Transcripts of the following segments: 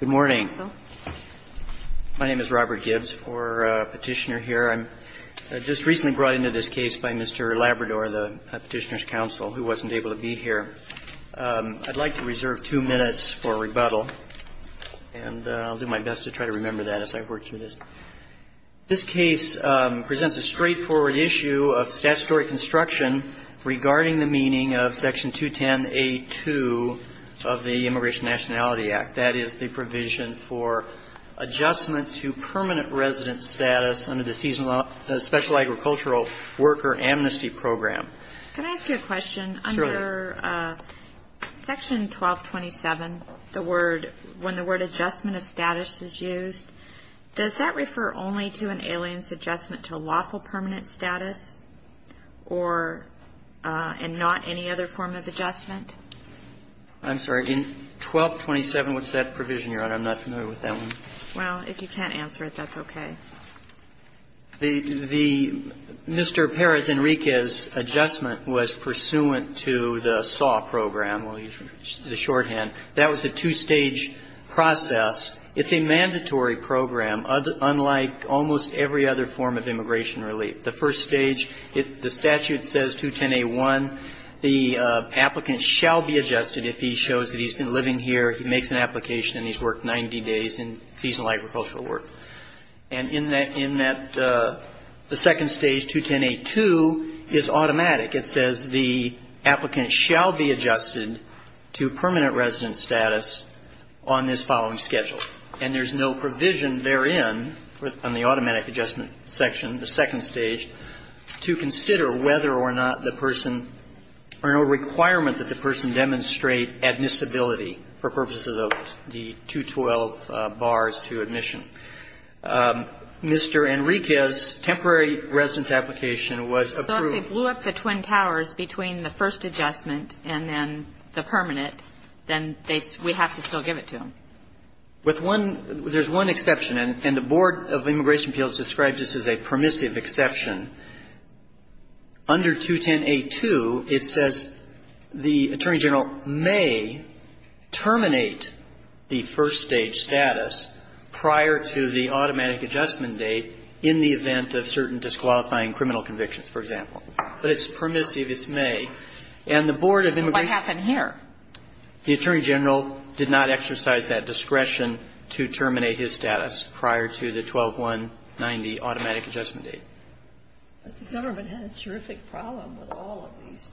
Good morning. My name is Robert Gibbs for Petitioner here. I'm just recently brought into this case by Mr. Labrador, the Petitioner's counsel, who wasn't able to be here. I'd like to reserve two minutes for rebuttal, and I'll do my best to try to remember that as I work through this. This case presents a straightforward issue of statutory construction regarding the meaning of Section 210A2 of the Immigration Nationality Act, that is the provision for adjustment to permanent resident status under the Special Agricultural Worker Amnesty Program. Can I ask you a question? Sure. Under Section 1227, when the word adjustment of status is used, does that refer only to an alien's adjustment to lawful permanent status or not any other form of adjustment? I'm sorry. In 1227, what's that provision, Your Honor? I'm not familiar with that one. Well, if you can't answer it, that's okay. The Mr. Perez-Enriquez adjustment was pursuant to the SAW program, the shorthand. That was a two-stage process. It's a mandatory program, unlike almost every other form of immigration relief. The first stage, the statute says 210A1, the applicant shall be adjusted if he shows that he's been living here, he makes an application, and he's worked 90 days in seasonal agricultural work. And in that second stage, 210A2, is automatic. It says the applicant shall be adjusted to permanent resident status on this following schedule. And there's no provision therein on the automatic adjustment section. The second stage, to consider whether or not the person or no requirement that the person demonstrate admissibility for purposes of the 212 bars to admission. Mr. Enriquez's temporary residence application was approved. So if they blew up the Twin Towers between the first adjustment and then the permanent, then they we have to still give it to them? With one – there's one exception. And the Board of Immigration Appeals describes this as a permissive exception. Under 210A2, it says the Attorney General may terminate the first-stage status prior to the automatic adjustment date in the event of certain disqualifying criminal convictions, for example. But it's permissive. It's may. And the Board of Immigration – But what happened here? The Attorney General did not exercise that discretion to terminate his status prior to the 12190 automatic adjustment date. But the government had a terrific problem with all of these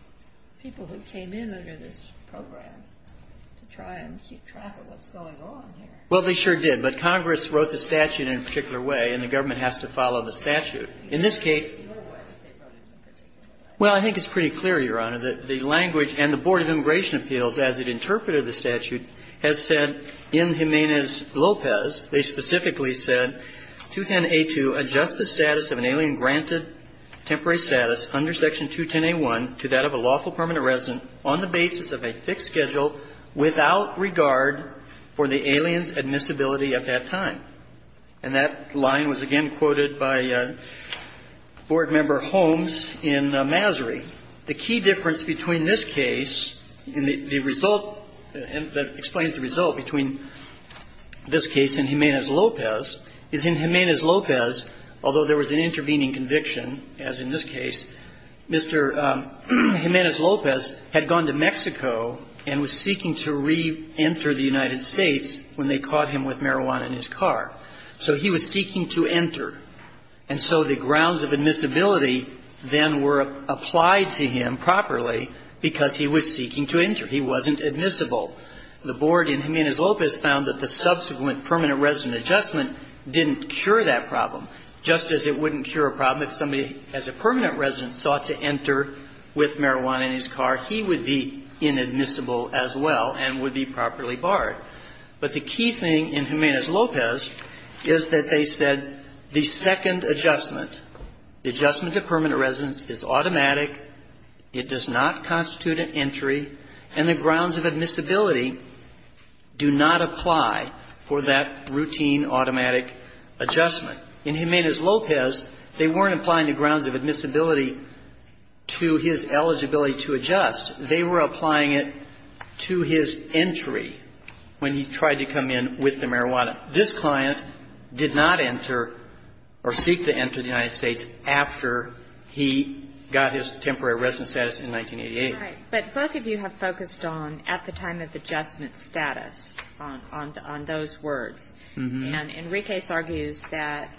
people who came in under this program to try and keep track of what's going on here. Well, they sure did. But Congress wrote the statute in a particular way, and the government has to follow the statute. In this case – In what way did they write it in a particular way? Well, I think it's pretty clear, Your Honor, that the language and the Board of Immigration Appeals, as it interpreted the statute, has said in Jimenez-Lopez, they specifically said, 210A2 adjusts the status of an alien granted temporary status under Section 210A1 to that of a lawful permanent resident on the basis of a fixed schedule without regard for the alien's admissibility at that time. And that line was again quoted by Board Member Holmes in Masry. The key difference between this case and the result that explains the result between this case and Jimenez-Lopez is in Jimenez-Lopez, although there was an intervening conviction, as in this case, Mr. Jimenez-Lopez had gone to Mexico and was seeking to reenter the United States when they caught him with marijuana in his car. So he was seeking to enter. And so the grounds of admissibility then were applied to him properly because he was seeking to enter. He wasn't admissible. The Board in Jimenez-Lopez found that the subsequent permanent resident adjustment didn't cure that problem, just as it wouldn't cure a problem if somebody as a permanent resident sought to enter with marijuana in his car. He would be inadmissible as well and would be properly barred. But the key thing in Jimenez-Lopez is that they said the second adjustment, the adjustment to permanent residence, is automatic, it does not constitute an entry, and the grounds of admissibility do not apply for that routine automatic adjustment. In Jimenez-Lopez, they weren't applying the grounds of admissibility to his eligibility to adjust. They were applying it to his entry when he tried to come in with the marijuana. This client did not enter or seek to enter the United States after he got his temporary residence status in 1988. Right. But both of you have focused on at the time of adjustment status, on those words. And Enriquez argues that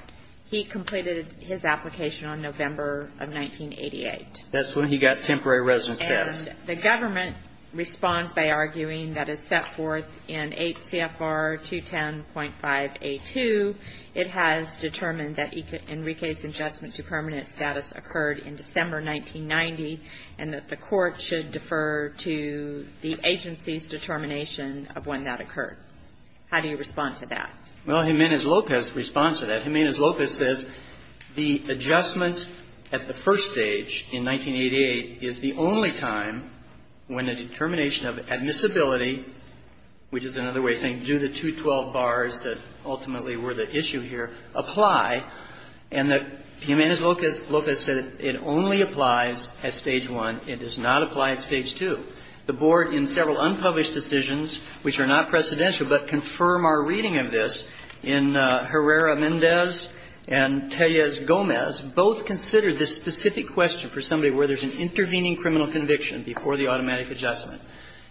he completed his application on November of 1988. That's when he got temporary residence status. And the government responds by arguing that as set forth in 8 CFR 210.5A2, it has determined that Enriquez's adjustment to permanent status occurred in December 1990, and that the court should defer to the agency's determination of when that would apply. Well, Jimenez-Lopez responds to that. Jimenez-Lopez says the adjustment at the first stage in 1988 is the only time when a determination of admissibility, which is another way of saying do the 212 bars that ultimately were the issue here, apply, and that Jimenez-Lopez said it only applies at Stage 1. It does not apply at Stage 2. The board in several unpublished decisions, which are not precedential but confirm our reading of this, in Herrera-Mendez and Tellez-Gomez, both considered this specific question for somebody where there's an intervening criminal conviction before the automatic adjustment.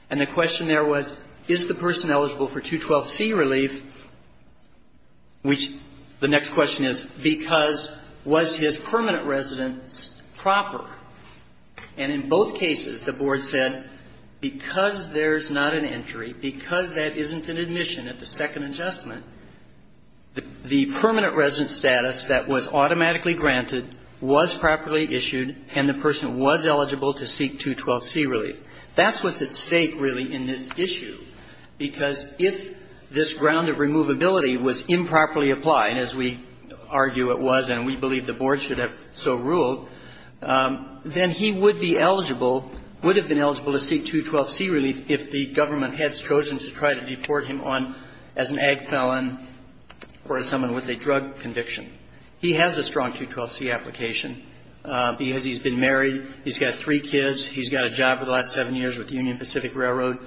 And the question there was, is the person eligible for 212c relief, which the next question is, because was his permanent residence proper? And in both cases, the board said, because there's not an entry, because that isn't an admission at the second adjustment, the permanent residence status that was automatically granted was properly issued, and the person was eligible to seek 212c relief. That's what's at stake, really, in this issue, because if this ground of removability was improperly applied, as we argue it was and we believe the board should have so ruled, then he would be eligible, would have been eligible to seek 212c relief if the board referred him on as an ag felon or as someone with a drug conviction. He has a strong 212c application because he's been married. He's got three kids. He's got a job for the last seven years with the Union Pacific Railroad.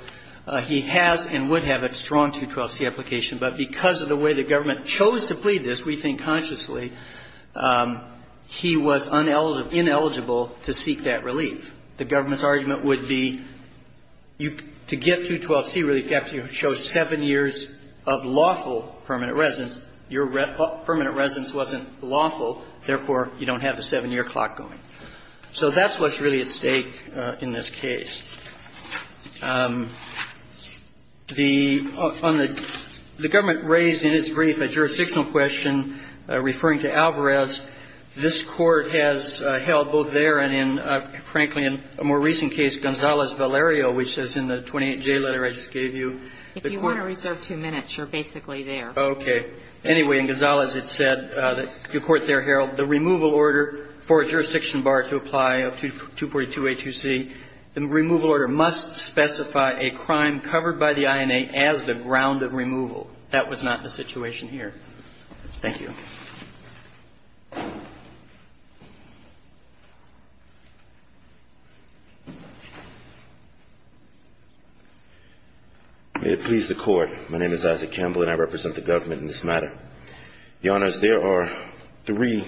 He has and would have a strong 212c application, but because of the way the government chose to plead this, we think consciously, he was ineligible to seek that relief. The government's argument would be to get 212c relief, you have to show seven years of lawful permanent residence. Your permanent residence wasn't lawful. Therefore, you don't have the seven-year clock going. So that's what's really at stake in this case. The government raised in its brief a jurisdictional question referring to Alvarez. This Court has held both there and in, frankly, in a more recent case, Gonzalez-Valerio, which is in the 28J letter I just gave you. If you want to reserve two minutes, you're basically there. Okay. Anyway, in Gonzalez, it said, the court there held the removal order for a jurisdiction bar to apply of 242a, 2c. The removal order must specify a crime covered by the INA as the ground of removal. That was not the situation here. Thank you. May it please the Court. My name is Isaac Campbell, and I represent the government in this matter. Your Honors, there are three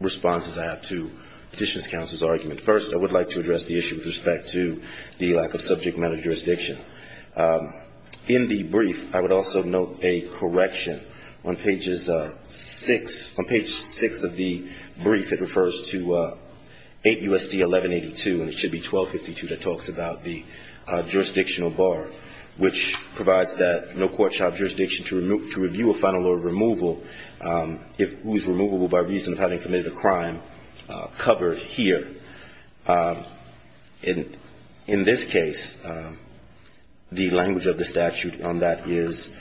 responses I have to Petitioner's counsel's argument. First, I would like to address the issue with respect to the lack of subject matter jurisdiction. In the brief, I would also note a correction. On page six of the brief, it refers to 8 U.S.C. 1182, and it should be 1252 that talks about the jurisdictional bar, which provides that no court shall have jurisdiction to review a final order of removal whose removal will, by reason of having committed a crime, cover here. In this case, the language of the statute on that is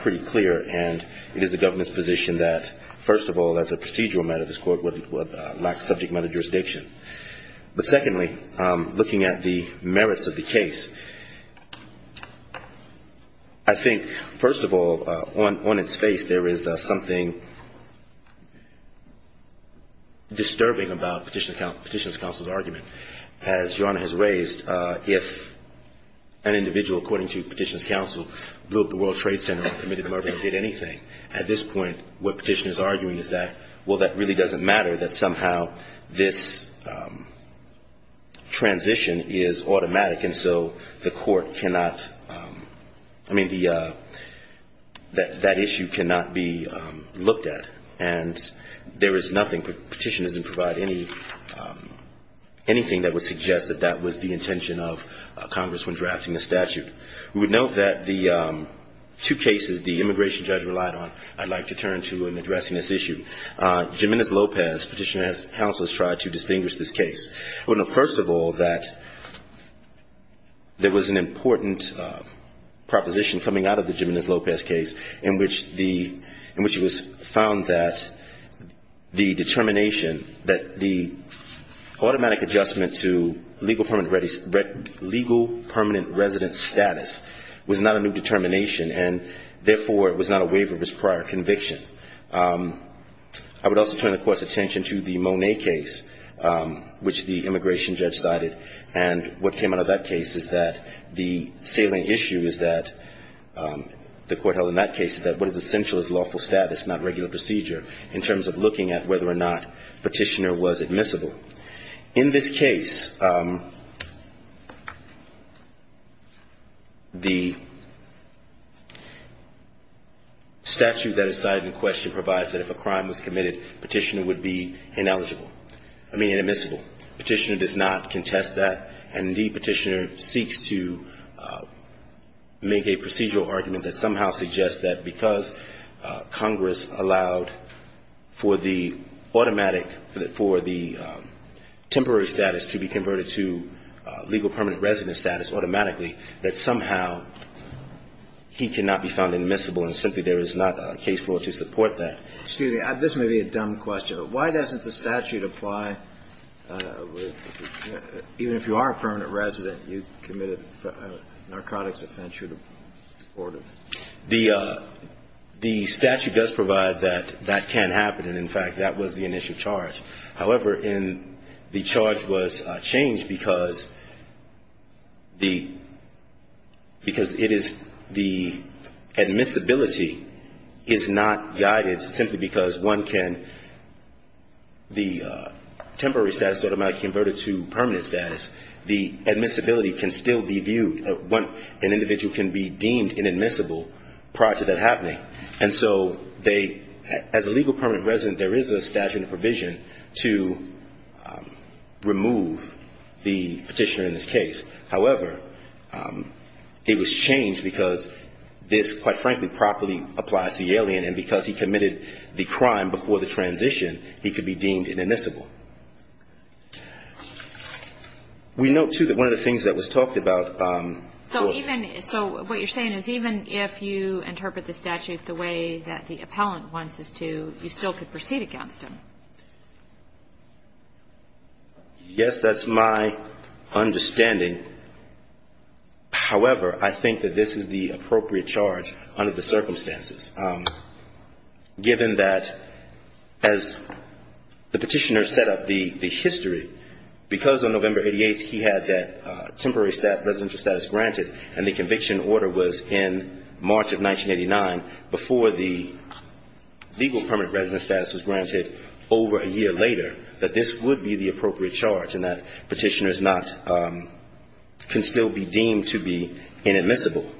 pretty clear, and it is the government's position that, first of all, as a procedural matter, this court would lack subject matter jurisdiction. But secondly, looking at the merits of the case, I think, first of all, on its face, there is something disturbing about Petitioner's counsel's argument, as Your Honor has raised. If an individual, according to Petitioner's counsel, blew up the World Trade Center and committed a murder and did anything, at this point, what Petitioner's arguing is that, well, that really doesn't matter, that somehow this transition is automatic, and so the court cannot, I mean, that issue cannot be looked at. And there is nothing, Petitioner doesn't provide anything that would suggest that that was the intention of Congress when drafting the statute. We would note that the two cases the immigration judge relied on, I'd like to turn to in addressing this issue. Jimenez-Lopez, Petitioner's counsel, has tried to distinguish this case. Well, first of all, that there was an important proposition coming out of the Jimenez-Lopez case in which the, in which it was found that the determination, that the automatic adjustment to legal permanent resident status was not a new determination, and therefore, it was not a waiver of his prior conviction. I would also turn the Court's attention to the Monet case, which the immigration judge cited, and what came out of that case is that the salient issue is that, the Court held in that case is that what is essential is lawful status, not regular procedure. In terms of looking at whether or not Petitioner was admissible. In this case, the statute that is cited in question provides that if a crime was committed, Petitioner would be ineligible. I mean, admissible. Petitioner does not contest that, and indeed, Petitioner seeks to make a procedural argument that somehow suggests that because Congress allows for the automatic, for the temporary status to be converted to legal permanent resident status automatically, that somehow he cannot be found admissible, and simply there is not a case law to support that. Excuse me, this may be a dumb question, but why doesn't the statute apply, even if you are a permanent resident, you committed a narcotics offense, why doesn't the statute apply? The statute does provide that that can happen, and in fact, that was the initial charge. However, the charge was changed because the, because it is, the admissibility is not guided simply because one can, the temporary status automatically converted to permanent status, the admissibility can still be viewed. An individual can be deemed inadmissible prior to that happening, and so they, as a legal permanent resident, there is a statute and a provision to remove the Petitioner in this case. However, it was changed because this, quite frankly, properly applies to the alien, and because he committed the crime before the transition, he could be deemed inadmissible. We note, too, that one of the things that was talked about before. So even, so what you're saying is even if you interpret the statute the way that the appellant wants this to, you still could proceed against him. Yes, that's my understanding. However, I think that this is the appropriate charge under the circumstances, given that as the Petitioner set up the history, because on November 88th he had that temporary residential status granted, and the conviction order was in March of 1989, before the legal permanent resident status was granted over a year later, that this would be the appropriate charge, and that Petitioner is not, can still be deemed to be inadmissible.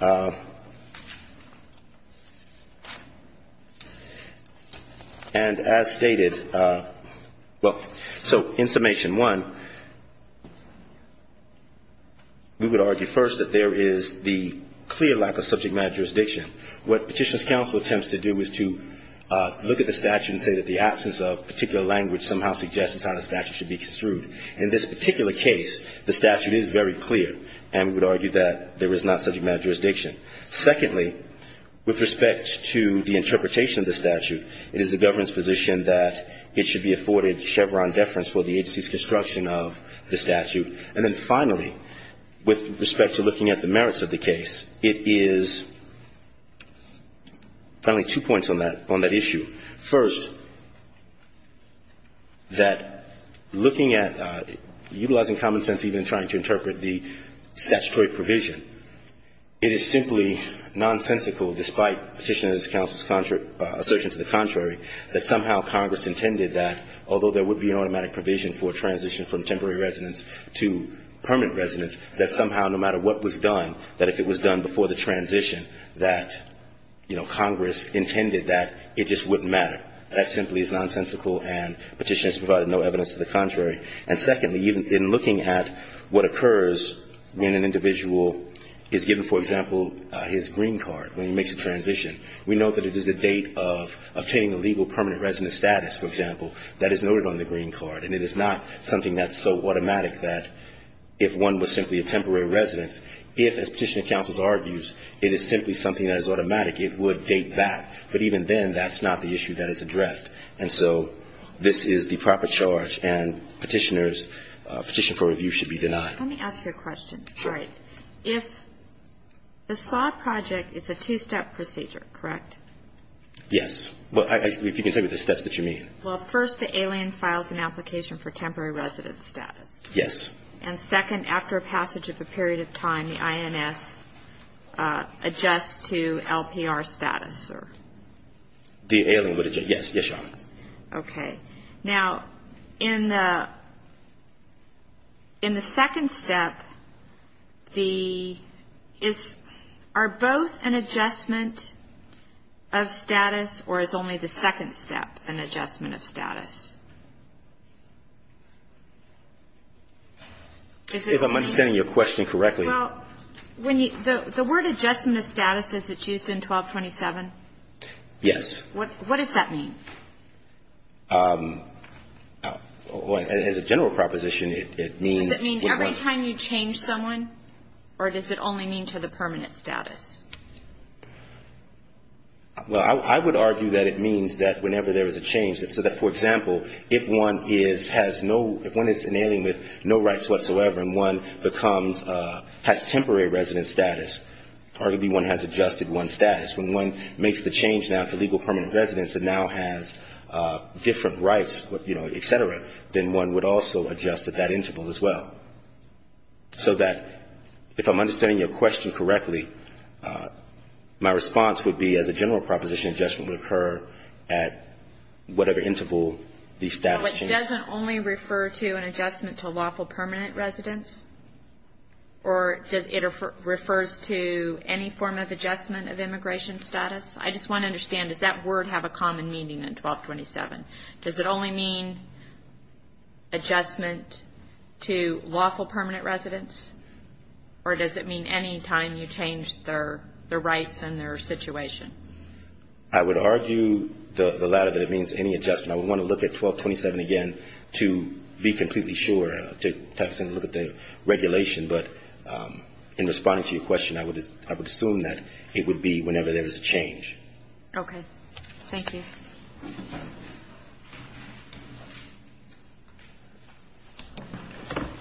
And as stated, well, so in summation one, we would argue first that there is the clear lack of subject matter jurisdiction. What Petitioner's counsel attempts to do is to look at the statute and say that the absence of particular language somehow suggests that the statute should be construed. In this particular case, the statute is very clear, and we would argue that there is not subject matter jurisdiction. Secondly, with respect to the interpretation of the statute, it is the government's position that it should be afforded Chevron deference for the agency's construction of the statute. And then finally, with respect to looking at the merits of the case, it is, finally, two points on that issue. First, that looking at, utilizing common sense even in trying to interpret the statutory provision, it is simply nonsensical despite Petitioner's counsel's assertion to the contrary that somehow Congress intended that, although there would be an automatic provision for transition from temporary residence to permanent residence, that somehow no matter what was done, that if it was done before the transition that, you know, Congress intended that, it just wouldn't matter. That simply is nonsensical, and Petitioner's provided no evidence to the contrary. And secondly, even in looking at what occurs when an individual is given, for example, his green card when he makes a transition, we know that it is a date of obtaining a legal permanent residence status, for example, that is noted on the green card, and it is not something that's so automatic that if one was simply a temporary resident, if, as Petitioner's counsel's argument argues, it is simply something that is automatic, it would date back. But even then, that's not the issue that is addressed. And so this is the proper charge, and Petitioner's petition for review should be denied. Let me ask you a question. Sure. All right. If the SAW project is a two-step procedure, correct? Yes. Well, if you can tell me the steps that you mean. Well, first, the alien files an application for temporary residence status. Yes. And second, after passage of a period of time, the INS adjusts to LPR status, or? The alien would adjust. Yes. Yes, Your Honor. Okay. Now, in the second step, are both an adjustment of status, or is only the second step an adjustment of status? If I'm understanding your question correctly. Well, when you the word adjustment of status, is it used in 1227? Yes. What does that mean? As a general proposition, it means. Does it mean every time you change someone, or does it only mean to the permanent status? Well, I would argue that it means that whenever there is a change, so that, for example, if one is, has no, if one is an alien with no rights whatsoever and one becomes, has temporary residence status, arguably one has adjusted one's status, when one makes the change now to legal permanent residence and now has different rights, you know, et cetera, then one would also adjust at that interval as well. So that if I'm understanding your question correctly, my response would be, as a general proposition, adjustment would occur at whatever interval the status changes. So it doesn't only refer to an adjustment to lawful permanent residence? Or does it refer to any form of adjustment of immigration status? I just want to understand, does that word have a common meaning in 1227? Does it only mean adjustment to lawful permanent residence? Or does it mean any time you change their rights and their situation? I would argue the latter, that it means any adjustment. I would want to look at 1227 again to be completely sure, to look at the regulation. But in responding to your question, I would assume that it would be whenever there is a change. Okay. Thank you.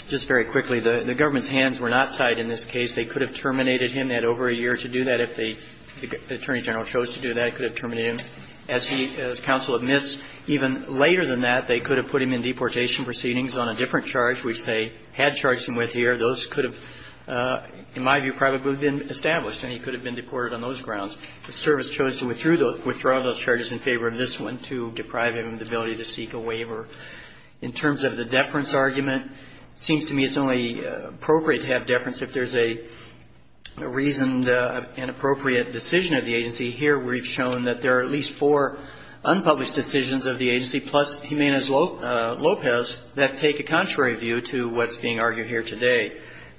Just very quickly. The government's hands were not tied in this case. They could have terminated him. They had over a year to do that. If the Attorney General chose to do that, it could have terminated him. As he, as counsel admits, even later than that, they could have put him in deportation proceedings on a different charge, which they had charged him with here. Those could have, in my view, probably been established, and he could have been deported on those grounds. The service chose to withdraw those charges in favor of this one to deprive him of the ability to seek a waiver. In terms of the deference argument, it seems to me it's only appropriate to have deference if there's a reasoned and appropriate decision of the agency. Here we've shown that there are at least four unpublished decisions of the agency, plus Jimenez-Lopez, that take a contrary view to what's being argued here today.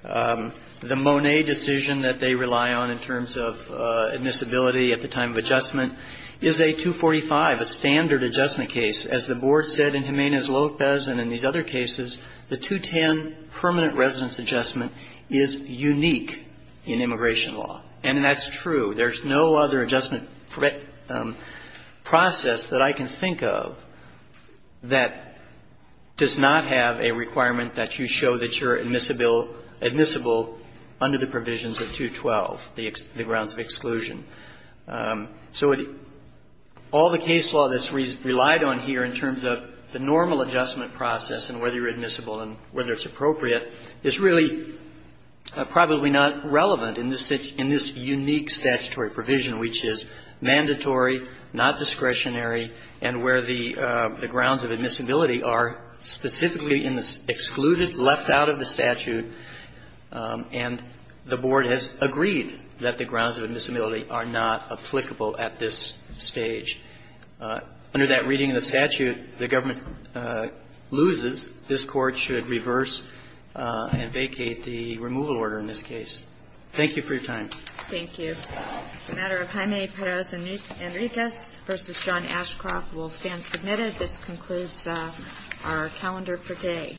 The Monet decision that they rely on in terms of admissibility at the time of adjustment is a 245, a standard adjustment case. As the Board said in Jimenez-Lopez and in these other cases, the 210 permanent residence adjustment is unique in immigration law. And that's true. There's no other adjustment process that I can think of that does not have a requirement that you show that you're admissible under the provisions of 212, the grounds of exclusion. So all the case law that's relied on here in terms of the normal adjustment process and whether you're admissible and whether it's appropriate is really probably not relevant in this unique statutory provision, which is mandatory, not discretionary, and where the grounds of admissibility are specifically excluded, left out of the statute, and the Board has agreed that the grounds of admissibility are not applicable at this stage. Under that reading of the statute, the government loses. This Court should reverse and vacate the removal order in this case. Thank you for your time. Thank you. The matter of Jaime Perez Enriquez v. John Ashcroft will stand submitted. This concludes our calendar for today.